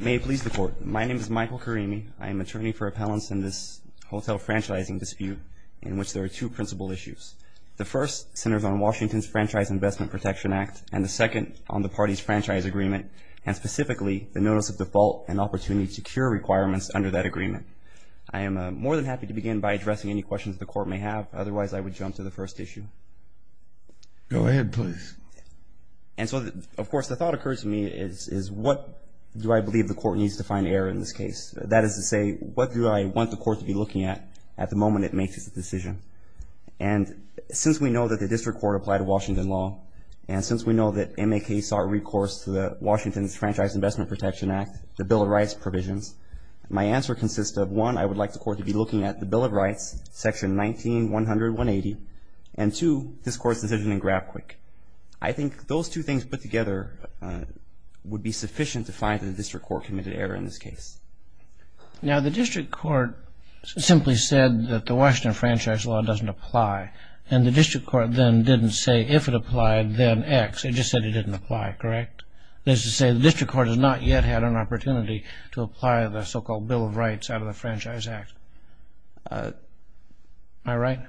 May it please the Court. My name is Michael Karimi. I am attorney for appellants in this hotel franchising dispute in which there are two principal issues. The first centers on Washington's Franchise Investment Protection Act, and the second on the party's franchise agreement, and specifically the notice of default and opportunity to cure requirements under that agreement. I am more than happy to begin by addressing any questions the Court may have. Otherwise, I would jump to the first issue. Go ahead, please. And so, of course, the thought occurs to me is what do I believe the Court needs to find error in this case? That is to say, what do I want the Court to be looking at at the moment it makes its decision? And since we know that the District Court applied a Washington law, and since we know that MAK sought recourse to Washington's Franchise Investment Protection Act, the Bill of Rights provisions, my answer consists of, one, I would like the Court to be looking at the Bill of Rights, Section 19-100-180, and, two, this Court's decision in GrabQuick. I think those two things put together would be sufficient to find that the District Court committed error in this case. Now, the District Court simply said that the Washington Franchise Law doesn't apply, and the District Court then didn't say if it applied, then X. It just said it didn't apply, correct? That is to say, the District Court has not yet had an opportunity to apply the so-called Bill of Rights out of the Franchise Act. Am I right?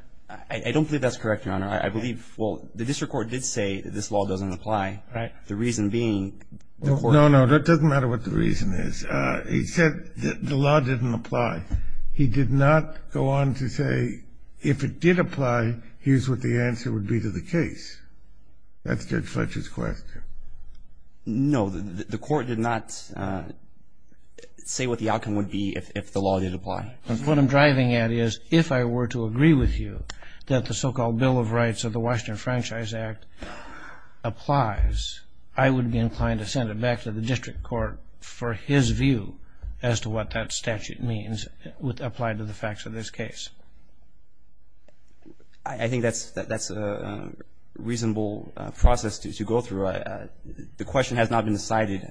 I don't believe that's correct, Your Honor. I believe, well, the District Court did say that this law doesn't apply. Right. The reason being the Court ---- No, no. It doesn't matter what the reason is. He said that the law didn't apply. He did not go on to say, if it did apply, here's what the answer would be to the case. That's Judge Fletcher's question. No. The Court did not say what the outcome would be if the law did apply. What I'm driving at is, if I were to agree with you that the so-called Bill of Rights of the Washington Franchise Act applies, I would be inclined to send it back to the District Court for his view as to what that statute means would apply to the facts of this case. I think that's a reasonable process to go through. The question has not been decided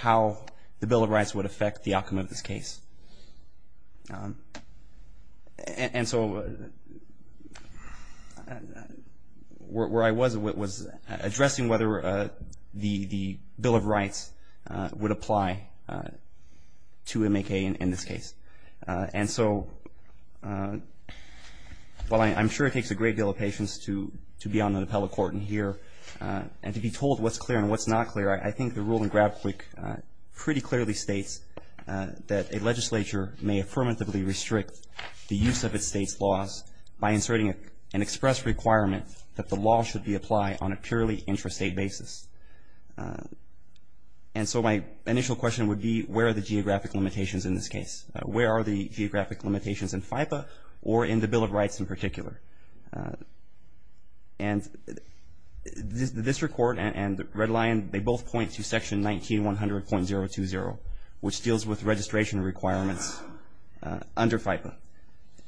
how the Bill of Rights would affect the outcome of this case. And so where I was was addressing whether the Bill of Rights would apply to M.A.K. in this case. And so while I'm sure it takes a great deal of patience to be on an appellate court and hear and to be told what's clear and what's not clear, I think the rule in GrabQuick pretty clearly states that a legislature may affirmatively restrict the use of its state's laws by inserting an express requirement that the law should be applied on a purely intrastate basis. And so my initial question would be, where are the geographic limitations in this case? Where are the geographic limitations in FIPA or in the Bill of Rights in particular? And the District Court and Red Lion, they both point to Section 19-100.020, which deals with registration requirements under FIPA.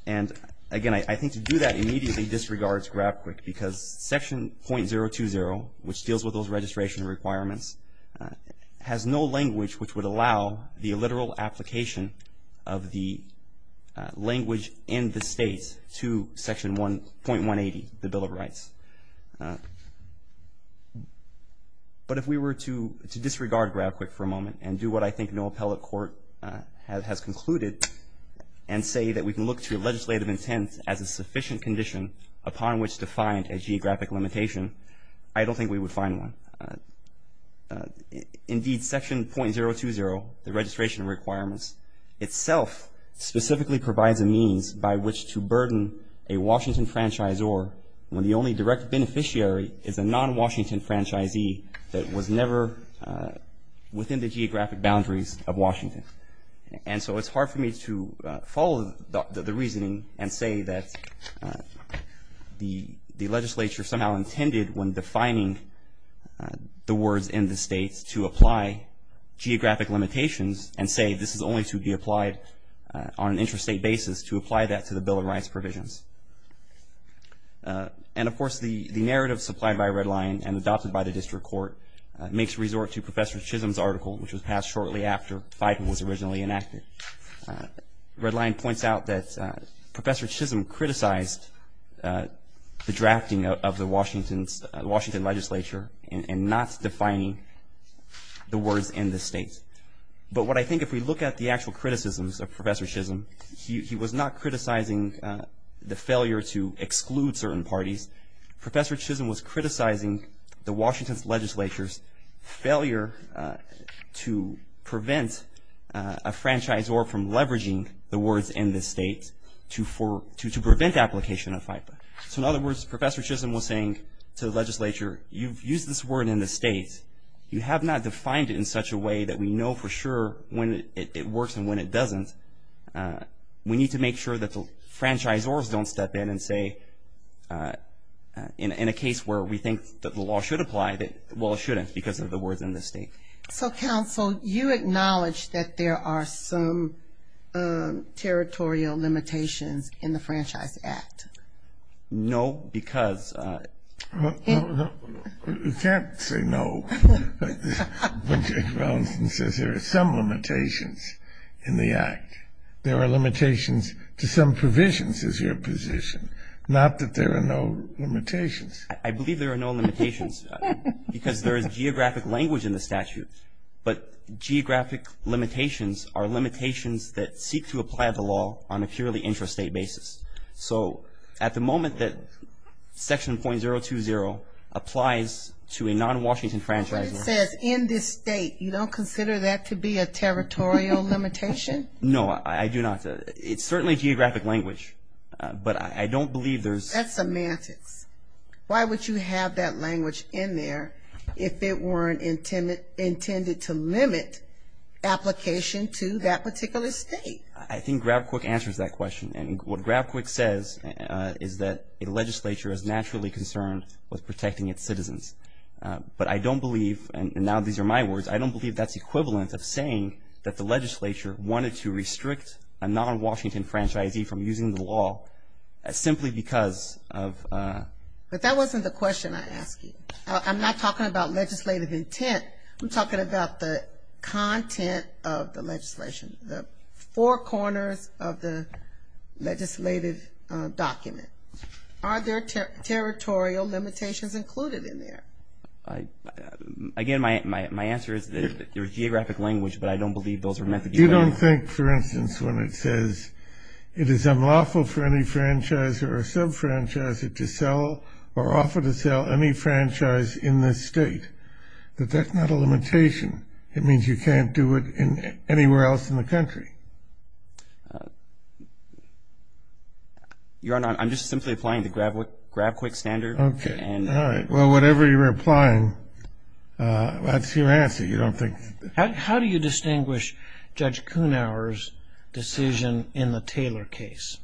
And again, I think to do that immediately disregards GrabQuick because Section .020, which deals with those registration requirements, has no language which would allow the literal application of the language in the state to Section .180, the Bill of Rights. But if we were to disregard GrabQuick for a moment and do what I think no appellate court has concluded and say that we can look to legislative intent as a sufficient condition upon which to find a geographic limitation, I don't think we would find one. Indeed, Section .020, the registration requirements, itself specifically provides a means by which to burden a Washington franchisor when the only direct beneficiary is a non-Washington franchisee that was never within the geographic boundaries of Washington. And so it's hard for me to follow the reasoning and say that the legislature somehow intended when defining the words in the states to apply geographic limitations and say this is only to be applied on an interstate basis to apply that to the Bill of Rights provisions. And, of course, the narrative supplied by Red Lion and adopted by the district court makes resort to Professor Chisholm's article, which was passed shortly after FIPA was originally enacted. Red Lion points out that Professor Chisholm criticized the drafting of the Washington legislature and not defining the words in the states. But what I think if we look at the actual criticisms of Professor Chisholm, he was not criticizing the failure to exclude certain parties. Professor Chisholm was criticizing the Washington legislature's failure to prevent a franchisor from leveraging the words in the states to prevent application of FIPA. So in other words, Professor Chisholm was saying to the legislature, you've used this word in the states, you have not defined it in such a way that we know for sure when it works and when it doesn't. We need to make sure that the franchisors don't step in and say, in a case where we think that the law should apply, well, it shouldn't because of the words in the state. So, counsel, you acknowledge that there are some territorial limitations in the Franchise Act? No, because... You can't say no when Judge Robinson says there are some limitations in the act. There are limitations to some provisions, is your position. Not that there are no limitations. I believe there are no limitations because there is geographic language in the statute, but geographic limitations are limitations that seek to apply the law on a purely intrastate basis. So at the moment that Section .020 applies to a non-Washington franchisor... But it says in this state. You don't consider that to be a territorial limitation? No, I do not. It's certainly geographic language, but I don't believe there's... That's semantics. Why would you have that language in there if it weren't intended to limit application to that particular state? I think GrabQuick answers that question, and what GrabQuick says is that a legislature is naturally concerned with protecting its citizens. But I don't believe, and now these are my words, I don't believe that's equivalent of saying that the legislature wanted to restrict a non-Washington franchisee from using the law simply because of... But that wasn't the question I asked you. I'm not talking about legislative intent. I'm talking about the content of the legislation, the four corners of the legislative document. Are there territorial limitations included in there? Again, my answer is that there is geographic language, but I don't believe those are meant to be... You don't think, for instance, when it says, it is unlawful for any franchisor or sub-franchisor to sell or offer to sell any franchise in this state, that that's not a limitation. It means you can't do it anywhere else in the country. Your Honor, I'm just simply applying the GrabQuick standard. Okay, all right. Well, whatever you're applying, that's your answer. You don't think... How do you distinguish Judge Kuhnauer's decision in the Taylor case?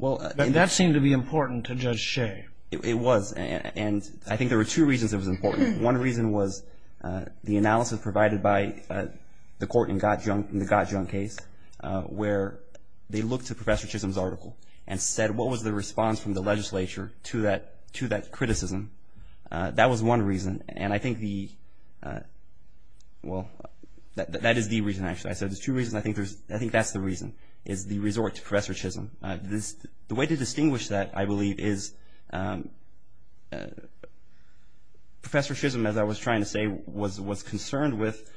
That seemed to be important to Judge Shea. It was, and I think there were two reasons it was important. One reason was the analysis provided by the court in the Gottjung case where they looked at Professor Chisholm's article and said, what was the response from the legislature to that criticism? That was one reason, and I think the... Well, that is the reason, actually. I said there's two reasons. I think that's the reason, is the resort to Professor Chisholm. The way to distinguish that, I believe, is Professor Chisholm, as I was trying to say, was concerned with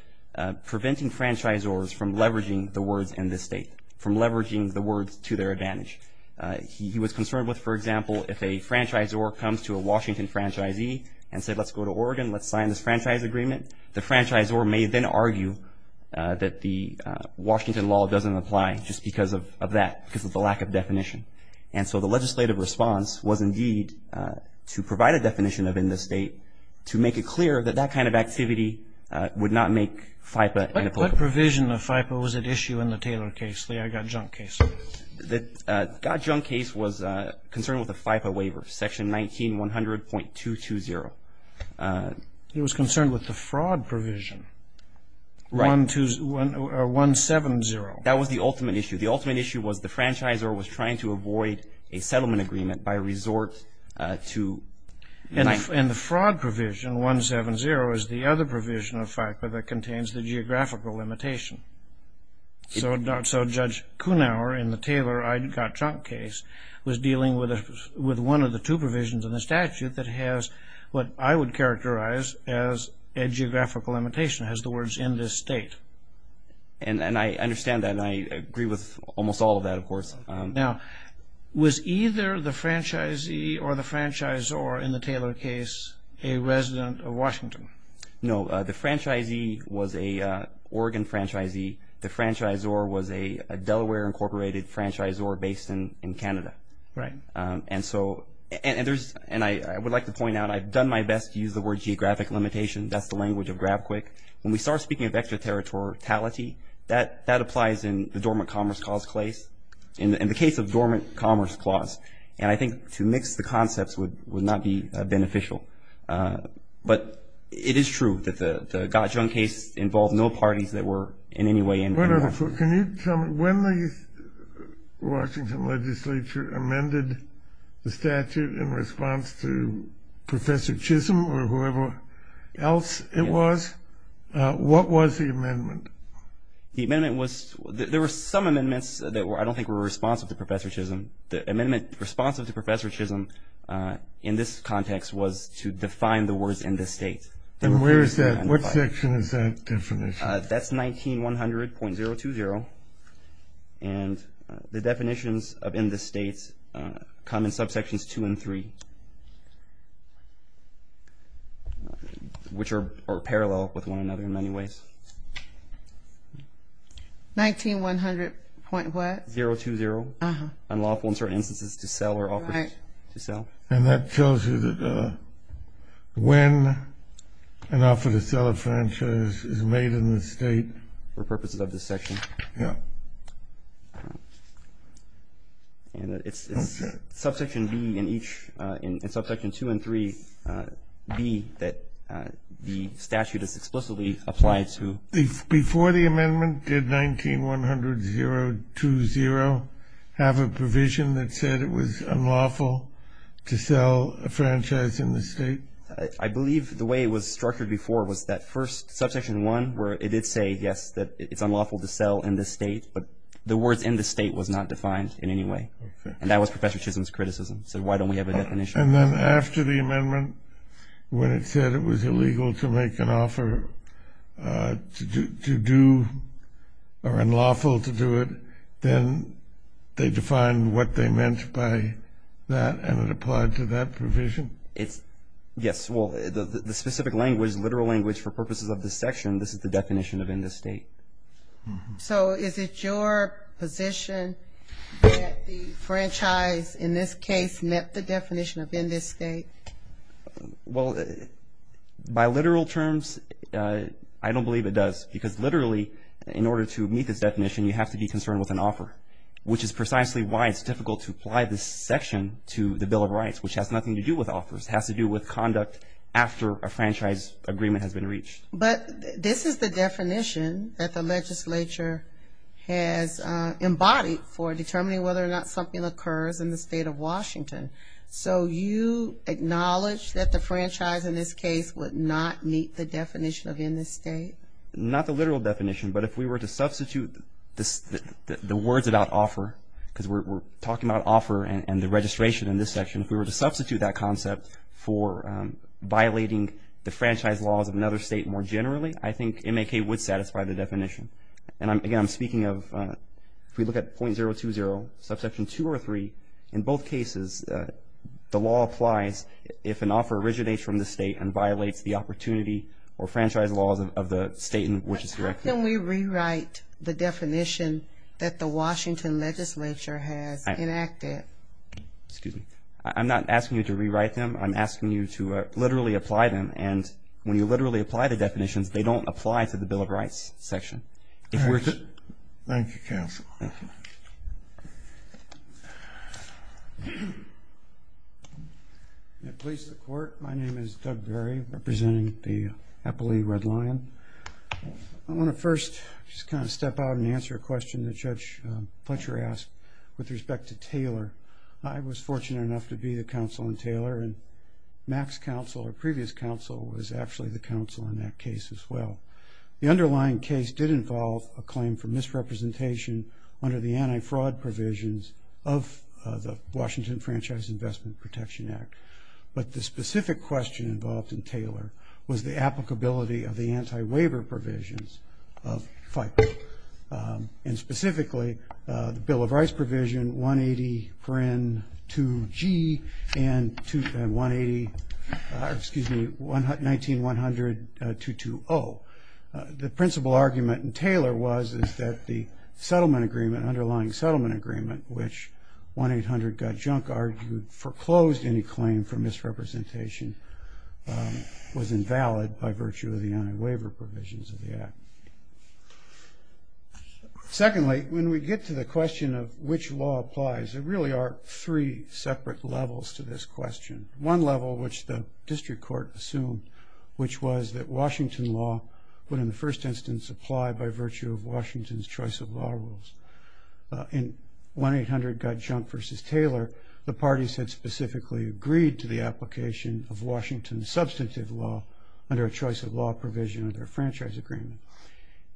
preventing franchisors from leveraging the words in this state, from leveraging the words to their advantage. He was concerned with, for example, if a franchisor comes to a Washington franchisee and said, let's go to Oregon, let's sign this franchise agreement, the franchisor may then argue that the Washington law doesn't apply just because of that, because of the lack of definition. And so the legislative response was indeed to provide a definition of in this state to make it clear that that kind of activity would not make FIPPA an applicable. What provision of FIPPA was at issue in the Taylor case, the Gottjung case? The Gottjung case was concerned with the FIPPA waiver, section 19100.220. He was concerned with the fraud provision, 170. That was the ultimate issue. The ultimate issue was the franchisor was trying to avoid a settlement agreement by resort to... And the fraud provision, 170, is the other provision of FIPPA that contains the geographical limitation. So Judge Kuhnauer in the Taylor Gottjung case was dealing with one of the two provisions in the statute that has what I would characterize as a geographical limitation, has the words in this state. And I understand that, and I agree with almost all of that, of course. Now, was either the franchisee or the franchisor in the Taylor case a resident of Washington? No. The franchisee was an Oregon franchisee. The franchisor was a Delaware Incorporated franchisor based in Canada. Right. And so, and I would like to point out I've done my best to use the word geographic limitation. That's the language of GrabQuick. When we start speaking of extraterritoriality, that applies in the dormant commerce clause. In the case of dormant commerce clause, and I think to mix the concepts would not be beneficial. But it is true that the Gottjung case involved no parties that were in any way involved. Can you tell me when the Washington legislature amended the statute in response to Professor Chisholm or whoever else it was, what was the amendment? The amendment was, there were some amendments that I don't think were responsive to Professor Chisholm. The amendment responsive to Professor Chisholm in this context was to define the words in this state. And where is that? What section is that definition? That's 19-100.020. And the definitions of in this state come in subsections two and three, which are parallel with one another in many ways. 19-100.what? 020, unlawful in certain instances to sell or offer to sell. And that tells you that when an offer to sell a franchise is made in the state? For purposes of this section. Yeah. And it's subsection B in each, in subsection two and three, B, that the statute is explicitly applied to. Before the amendment, did 19-100.020 have a provision that said it was unlawful to sell a franchise in the state? I believe the way it was structured before was that first, subsection one, where it did say, yes, that it's unlawful to sell in this state. But the words in this state was not defined in any way. And that was Professor Chisholm's criticism. He said, why don't we have a definition? And then after the amendment, when it said it was illegal to make an offer to do or unlawful to do it, then they defined what they meant by that and it applied to that provision? Yes. Well, the specific language, literal language for purposes of this section, this is the definition of in this state. So is it your position that the franchise in this case met the definition of in this state? Well, by literal terms, I don't believe it does. Because literally, in order to meet this definition, you have to be concerned with an offer, which is precisely why it's difficult to apply this section to the Bill of Rights, which has nothing to do with offers. It has to do with conduct after a franchise agreement has been reached. But this is the definition that the legislature has embodied for determining whether or not something occurs in the state of Washington. So you acknowledge that the franchise in this case would not meet the definition of in this state? Not the literal definition, but if we were to substitute the words about offer, because we're talking about offer and the registration in this section, if we were to substitute that concept for violating the franchise laws of another state more generally, I think MAK would satisfy the definition. And, again, I'm speaking of if we look at .020, Subsection 2 or 3, in both cases, the law applies if an offer originates from the state and violates the opportunity or franchise laws of the state in which it's directed. How can we rewrite the definition that the Washington legislature has enacted? Excuse me. I'm not asking you to rewrite them. I'm asking you to literally apply them. And when you literally apply the definitions, they don't apply to the Bill of Rights section. All right. Thank you, counsel. Thank you. May it please the Court. My name is Doug Berry, representing the Appley Red Lion. I want to first just kind of step out and answer a question that Judge Fletcher asked with respect to Taylor. I was fortunate enough to be the counsel on Taylor, and MAK's counsel or previous counsel was actually the counsel on that case as well. The underlying case did involve a claim for misrepresentation under the anti-fraud provisions of the Washington Franchise Investment Protection Act, but the specific question involved in Taylor was the applicability of the anti-waiver provisions of FICA, and specifically the Bill of Rights provision 180-2G and 1980, excuse me, 19-100-220. The principal argument in Taylor was that the settlement agreement, underlying settlement agreement, which 1-800-GOT-JUNK argued foreclosed any claim for misrepresentation, was invalid by virtue of the anti-waiver provisions of the act. Secondly, when we get to the question of which law applies, there really are three separate levels to this question. One level, which the district court assumed, which was that Washington law would in the first instance apply by virtue of Washington's choice of law rules. In 1-800-GOT-JUNK versus Taylor, the parties had specifically agreed to the application of Washington's substantive law under a choice of law provision of their franchise agreement.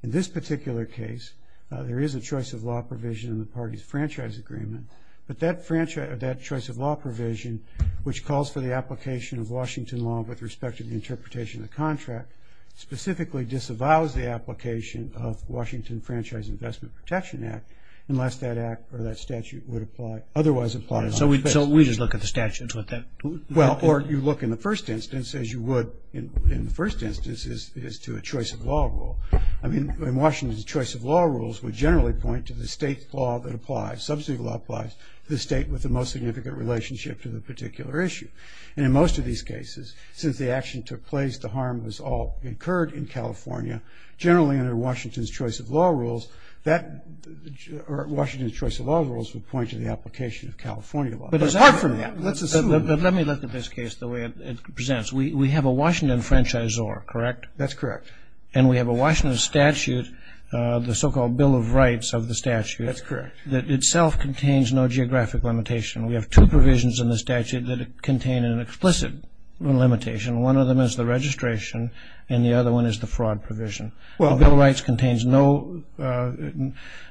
In this particular case, there is a choice of law provision in the party's franchise agreement, but that choice of law provision, which calls for the application of Washington law with respect to the interpretation of the contract, specifically disavows the application of Washington Franchise Investment Protection Act unless that act or that statute would apply, otherwise apply. So we just look at the statutes with that? Well, or you look in the first instance, as you would in the first instance, is to a choice of law rule. I mean, in Washington's choice of law rules would generally point to the state law that applies, substantive law applies to the state with the most significant relationship to the particular issue. And in most of these cases, since the action took place, the harm was all incurred in California, generally under Washington's choice of law rules, Washington's choice of law rules would point to the application of California law. But it's hard for me. Let's assume. Let me look at this case the way it presents. We have a Washington franchisor, correct? That's correct. And we have a Washington statute, the so-called Bill of Rights of the statute. That's correct. That itself contains no geographic limitation. We have two provisions in the statute that contain an explicit limitation. One of them is the registration, and the other one is the fraud provision. Well, Bill of Rights contains no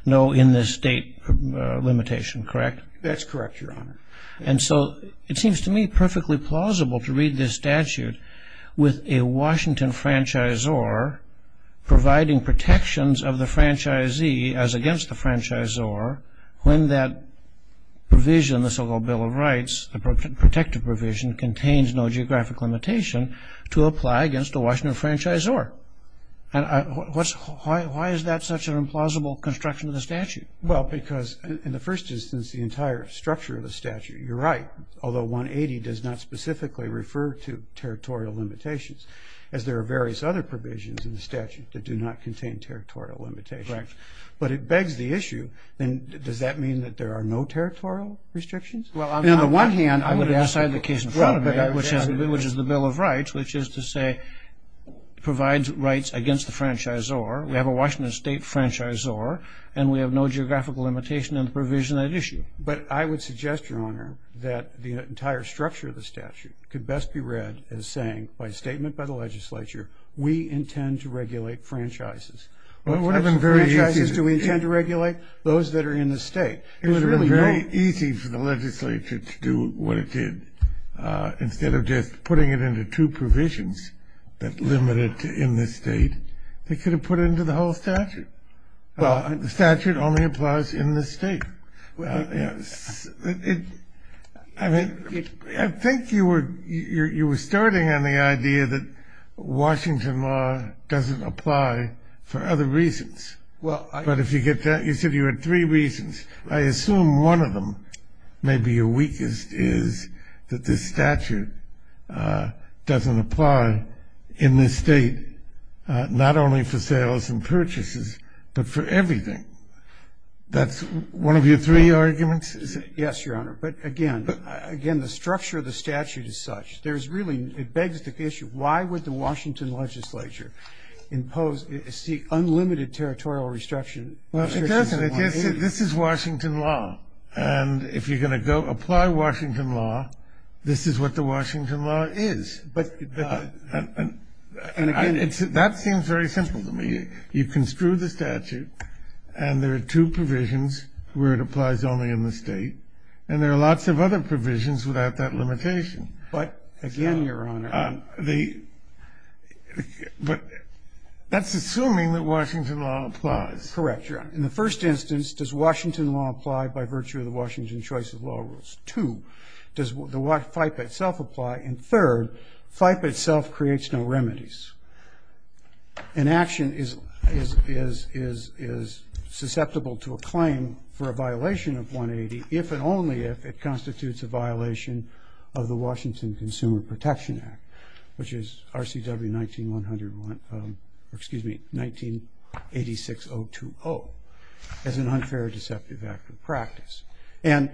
in-the-state limitation, correct? That's correct, Your Honor. And so it seems to me perfectly plausible to read this statute with a Washington franchisor providing protections of the franchisee as against the franchisor when that provision in the so-called Bill of Rights, the protective provision, contains no geographic limitation to apply against a Washington franchisor. And why is that such an implausible construction of the statute? Well, because in the first instance, the entire structure of the statute, you're right, although 180 does not specifically refer to territorial limitations, as there are various other provisions in the statute that do not contain territorial limitations. Correct. But it begs the issue, does that mean that there are no territorial restrictions? Well, on the one hand, I would aside the case in front of me, which is the Bill of Rights, which is to say it provides rights against the franchisor. We have a Washington state franchisor, and we have no geographical limitation in the provision of that issue. But I would suggest, Your Honor, that the entire structure of the statute could best be read as saying, by statement by the legislature, we intend to regulate franchises. What types of franchises do we intend to regulate? Those that are in the state. It would have been very easy for the legislature to do what it did. Instead of just putting it into two provisions that limit it in the state, they could have put it into the whole statute. The statute only applies in the state. I think you were starting on the idea that Washington law doesn't apply for other reasons. But if you get that, you said you had three reasons. I assume one of them, maybe your weakest, is that this statute doesn't apply in this state, not only for sales and purchases, but for everything. That's one of your three arguments? Yes, Your Honor. But, again, the structure of the statute is such. There's really, it begs the issue, why would the Washington legislature impose, seek unlimited territorial restriction? Well, it doesn't. This is Washington law. And if you're going to go apply Washington law, this is what the Washington law is. And, again, it's that seems very simple to me. You construe the statute, and there are two provisions where it applies only in the state, and there are lots of other provisions without that limitation. But, again, Your Honor. But that's assuming that Washington law applies. Correct, Your Honor. In the first instance, does Washington law apply by virtue of the Washington choice of law rules? Two, does the FIPA itself apply? And, third, FIPA itself creates no remedies. An action is susceptible to a claim for a violation of 180, if and only if it constitutes a violation of the Washington Consumer Protection Act, which is RCW 1901, excuse me, 1986-020, as an unfair deceptive act of practice. And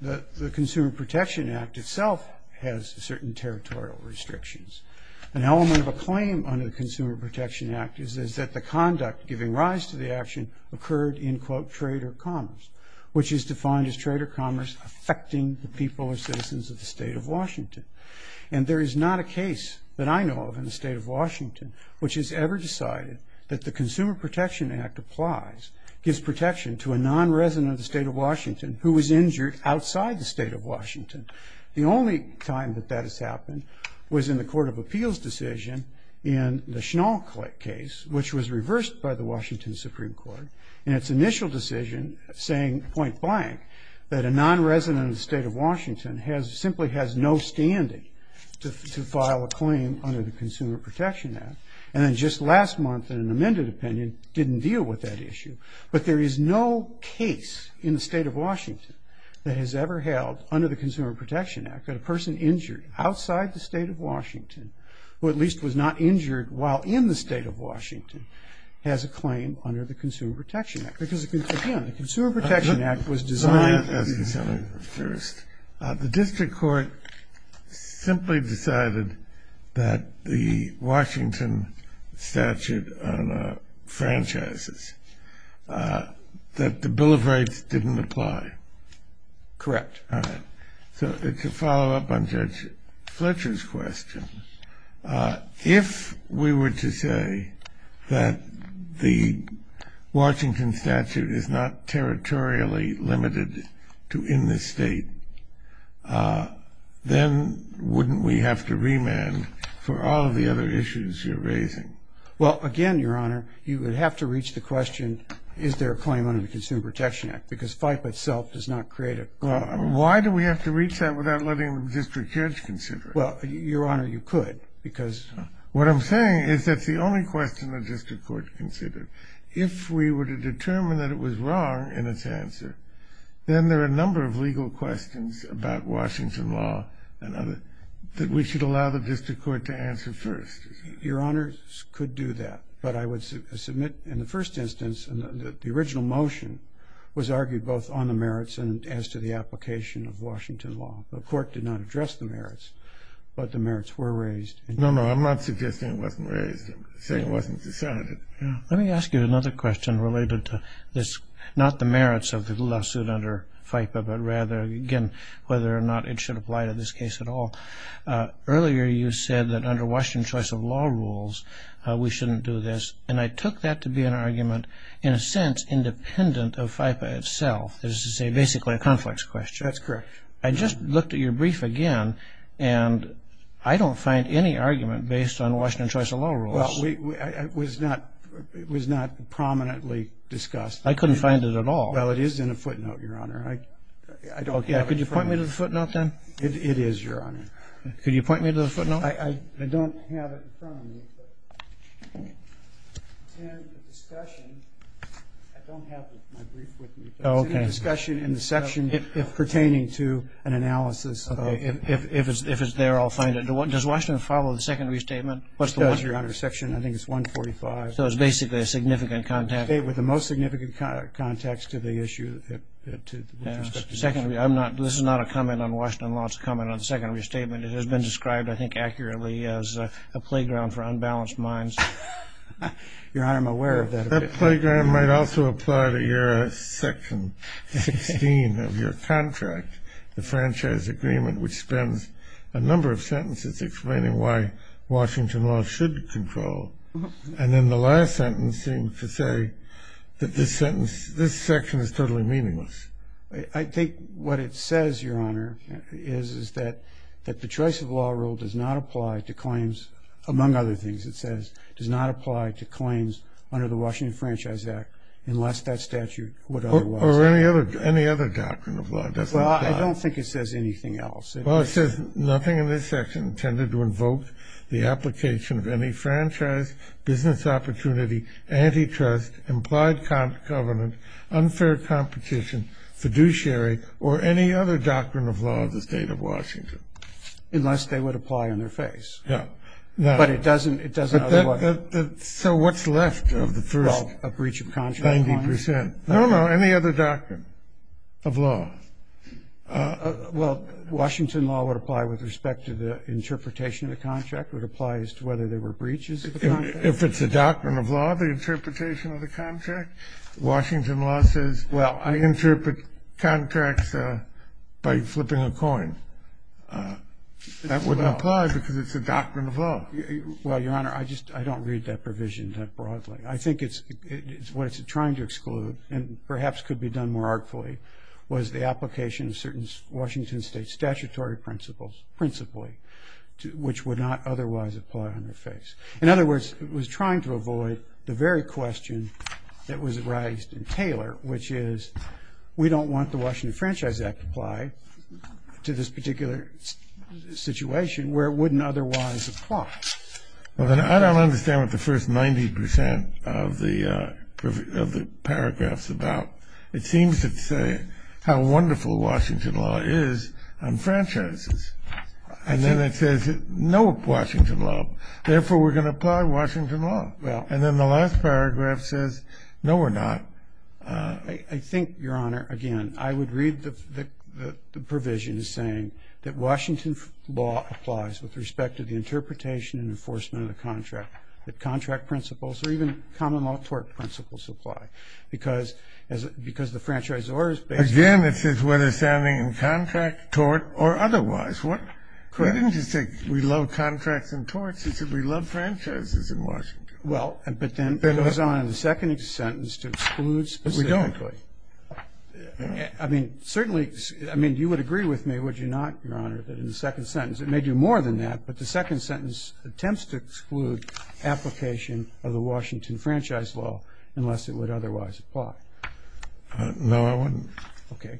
the Consumer Protection Act itself has certain territorial restrictions. An element of a claim under the Consumer Protection Act is that the conduct giving rise to the action occurred in, quote, trade or commerce, which is defined as trade or commerce affecting the people or citizens of the state of Washington. And there is not a case that I know of in the state of Washington which has ever decided that the Consumer Protection Act applies, gives protection to a non-resident of the state of Washington who was injured outside the state of Washington. The only time that that has happened was in the Court of Appeals decision in the Schnell case, which was reversed by the Washington Supreme Court in its initial decision saying point blank that a non-resident of the state of Washington simply has no standing to file a claim under the Consumer Protection Act. And then just last month in an amended opinion didn't deal with that issue. But there is no case in the state of Washington that has ever held under the Consumer Protection Act that a person injured outside the state of Washington, who at least was not injured while in the state of Washington, has a claim under the Consumer Protection Act. Because, again, the Consumer Protection Act was designed. The district court simply decided that the Washington statute on franchises, that the Bill of Rights didn't apply. Correct. All right. So to follow up on Judge Fletcher's question, if we were to say that the Washington statute is not territorially limited to in the state, then wouldn't we have to remand for all of the other issues you're raising? Well, again, Your Honor, you would have to reach the question, is there a claim under the Consumer Protection Act? Because FIPE itself does not create a claim. Well, why do we have to reach that without letting the district judge consider it? Well, Your Honor, you could, because — What I'm saying is that's the only question the district court considered. If we were to determine that it was wrong in its answer, then there are a number of legal questions about Washington law and other — that we should allow the district court to answer first. Your Honor, could do that. But I would submit, in the first instance, the original motion was argued both on the merits and as to the application of Washington law. The court did not address the merits, but the merits were raised. No, no, I'm not suggesting it wasn't raised. I'm saying it wasn't decided. Let me ask you another question related to this, not the merits of the lawsuit under FIPE, but rather, again, whether or not it should apply to this case at all. Earlier you said that under Washington choice of law rules, we shouldn't do this. And I took that to be an argument, in a sense, independent of FIPE itself. This is basically a conflicts question. That's correct. I just looked at your brief again, and I don't find any argument based on Washington choice of law rules. Well, it was not prominently discussed. I couldn't find it at all. Well, it is in a footnote, Your Honor. Could you point me to the footnote then? It is, Your Honor. Could you point me to the footnote? I don't have it in front of me. It's in a discussion. I don't have my brief with me. It's in a discussion in the section pertaining to an analysis. If it's there, I'll find it. Does Washington follow the secondary statement? It does, Your Honor. Section, I think it's 145. So it's basically a significant context. With the most significant context to the issue. This is not a comment on Washington law. It's a comment on the secondary statement. It has been described, I think, accurately as a playground for unbalanced minds. Your Honor, I'm aware of that. That playground might also apply to your section 16 of your contract, the franchise agreement, And then the last sentence seemed to say that this section is totally meaningless. I think what it says, Your Honor, is that the choice of law rule does not apply to claims, among other things, it says, does not apply to claims under the Washington Franchise Act unless that statute would otherwise. Or any other doctrine of law. Well, I don't think it says anything else. Well, it says nothing in this section intended to invoke the application of any franchise, business opportunity, antitrust, implied covenant, unfair competition, fiduciary, or any other doctrine of law of the state of Washington. Unless they would apply on their face. Yeah. But it doesn't otherwise. So what's left of the first 90%? Well, a breach of contract. No, no, any other doctrine of law. Well, Washington law would apply with respect to the interpretation of the contract, would apply as to whether there were breaches of the contract. If it's a doctrine of law, the interpretation of the contract, Washington law says, well, I interpret contracts by flipping a coin. That would apply because it's a doctrine of law. Well, Your Honor, I just, I don't read that provision that broadly. I think it's, what it's trying to exclude, and perhaps could be done more artfully, was the application of certain Washington State statutory principles principally, which would not otherwise apply on their face. In other words, it was trying to avoid the very question that was raised in Taylor, which is we don't want the Washington Franchise Act to apply to this particular situation where it wouldn't otherwise apply. Well, then I don't understand what the first 90% of the paragraph's about. It seems to say how wonderful Washington law is on franchises. And then it says no Washington law. Therefore, we're going to apply Washington law. Well. And then the last paragraph says no we're not. I think, Your Honor, again, I would read the provision as saying that Washington law applies with respect to the interpretation and enforcement of the contract, that contract principles or even common law tort principles apply. Because the franchise order is based on. Again, it says whether standing in contract, tort, or otherwise. Correct. We didn't just say we love contracts and torts. We said we love franchises in Washington. Well, but then it goes on in the second sentence to exclude specifically. We don't. I mean, certainly, I mean, you would agree with me, would you not, Your Honor, that in the second sentence, it may do more than that, but the second sentence attempts to exclude application of the Washington franchise law unless it would otherwise apply. No, I wouldn't. Okay.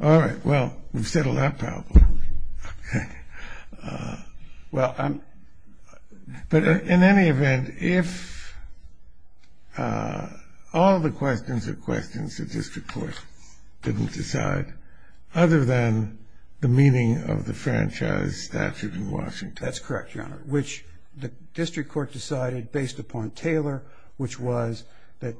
All right. Well, we've settled that problem. Okay. Other than the meaning of the franchise statute in Washington. That's correct, Your Honor, which the district court decided based upon Taylor, which was that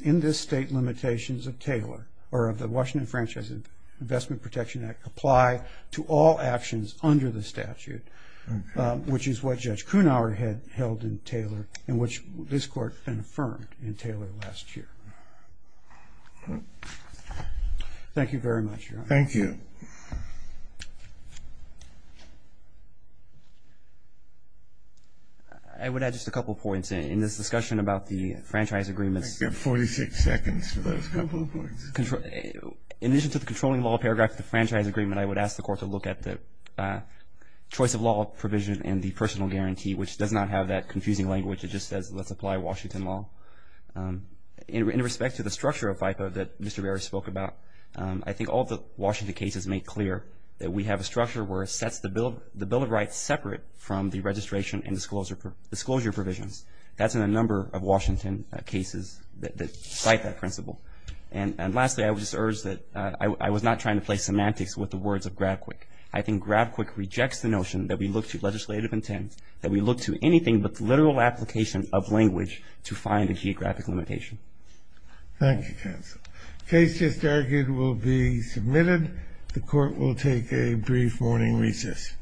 in this state limitations of Taylor or of the Washington Franchise Investment Protection Act apply to all actions under the statute, which is what Judge Kuhnhauer had held in Taylor and which this court then affirmed in Taylor last year. Thank you very much, Your Honor. Thank you. I would add just a couple of points. In this discussion about the franchise agreements. You have 46 seconds for those couple of points. In addition to the controlling law paragraph of the franchise agreement, I would ask the court to look at the choice of law provision and the personal guarantee, which does not have that confusing language. It just says let's apply Washington law. In respect to the structure of FICA that Mr. Barrett spoke about, I think all the Washington cases make clear that we have a structure where it sets the bill of rights separate from the registration and disclosure provisions. That's in a number of Washington cases that cite that principle. And lastly, I would just urge that I was not trying to play semantics with the words of Grabquick. I think Grabquick rejects the notion that we look to legislative intent, that we look to anything but the literal application of language to find a geographic limitation. Thank you, counsel. The case just argued will be submitted. The court will take a brief morning recess. Thank you.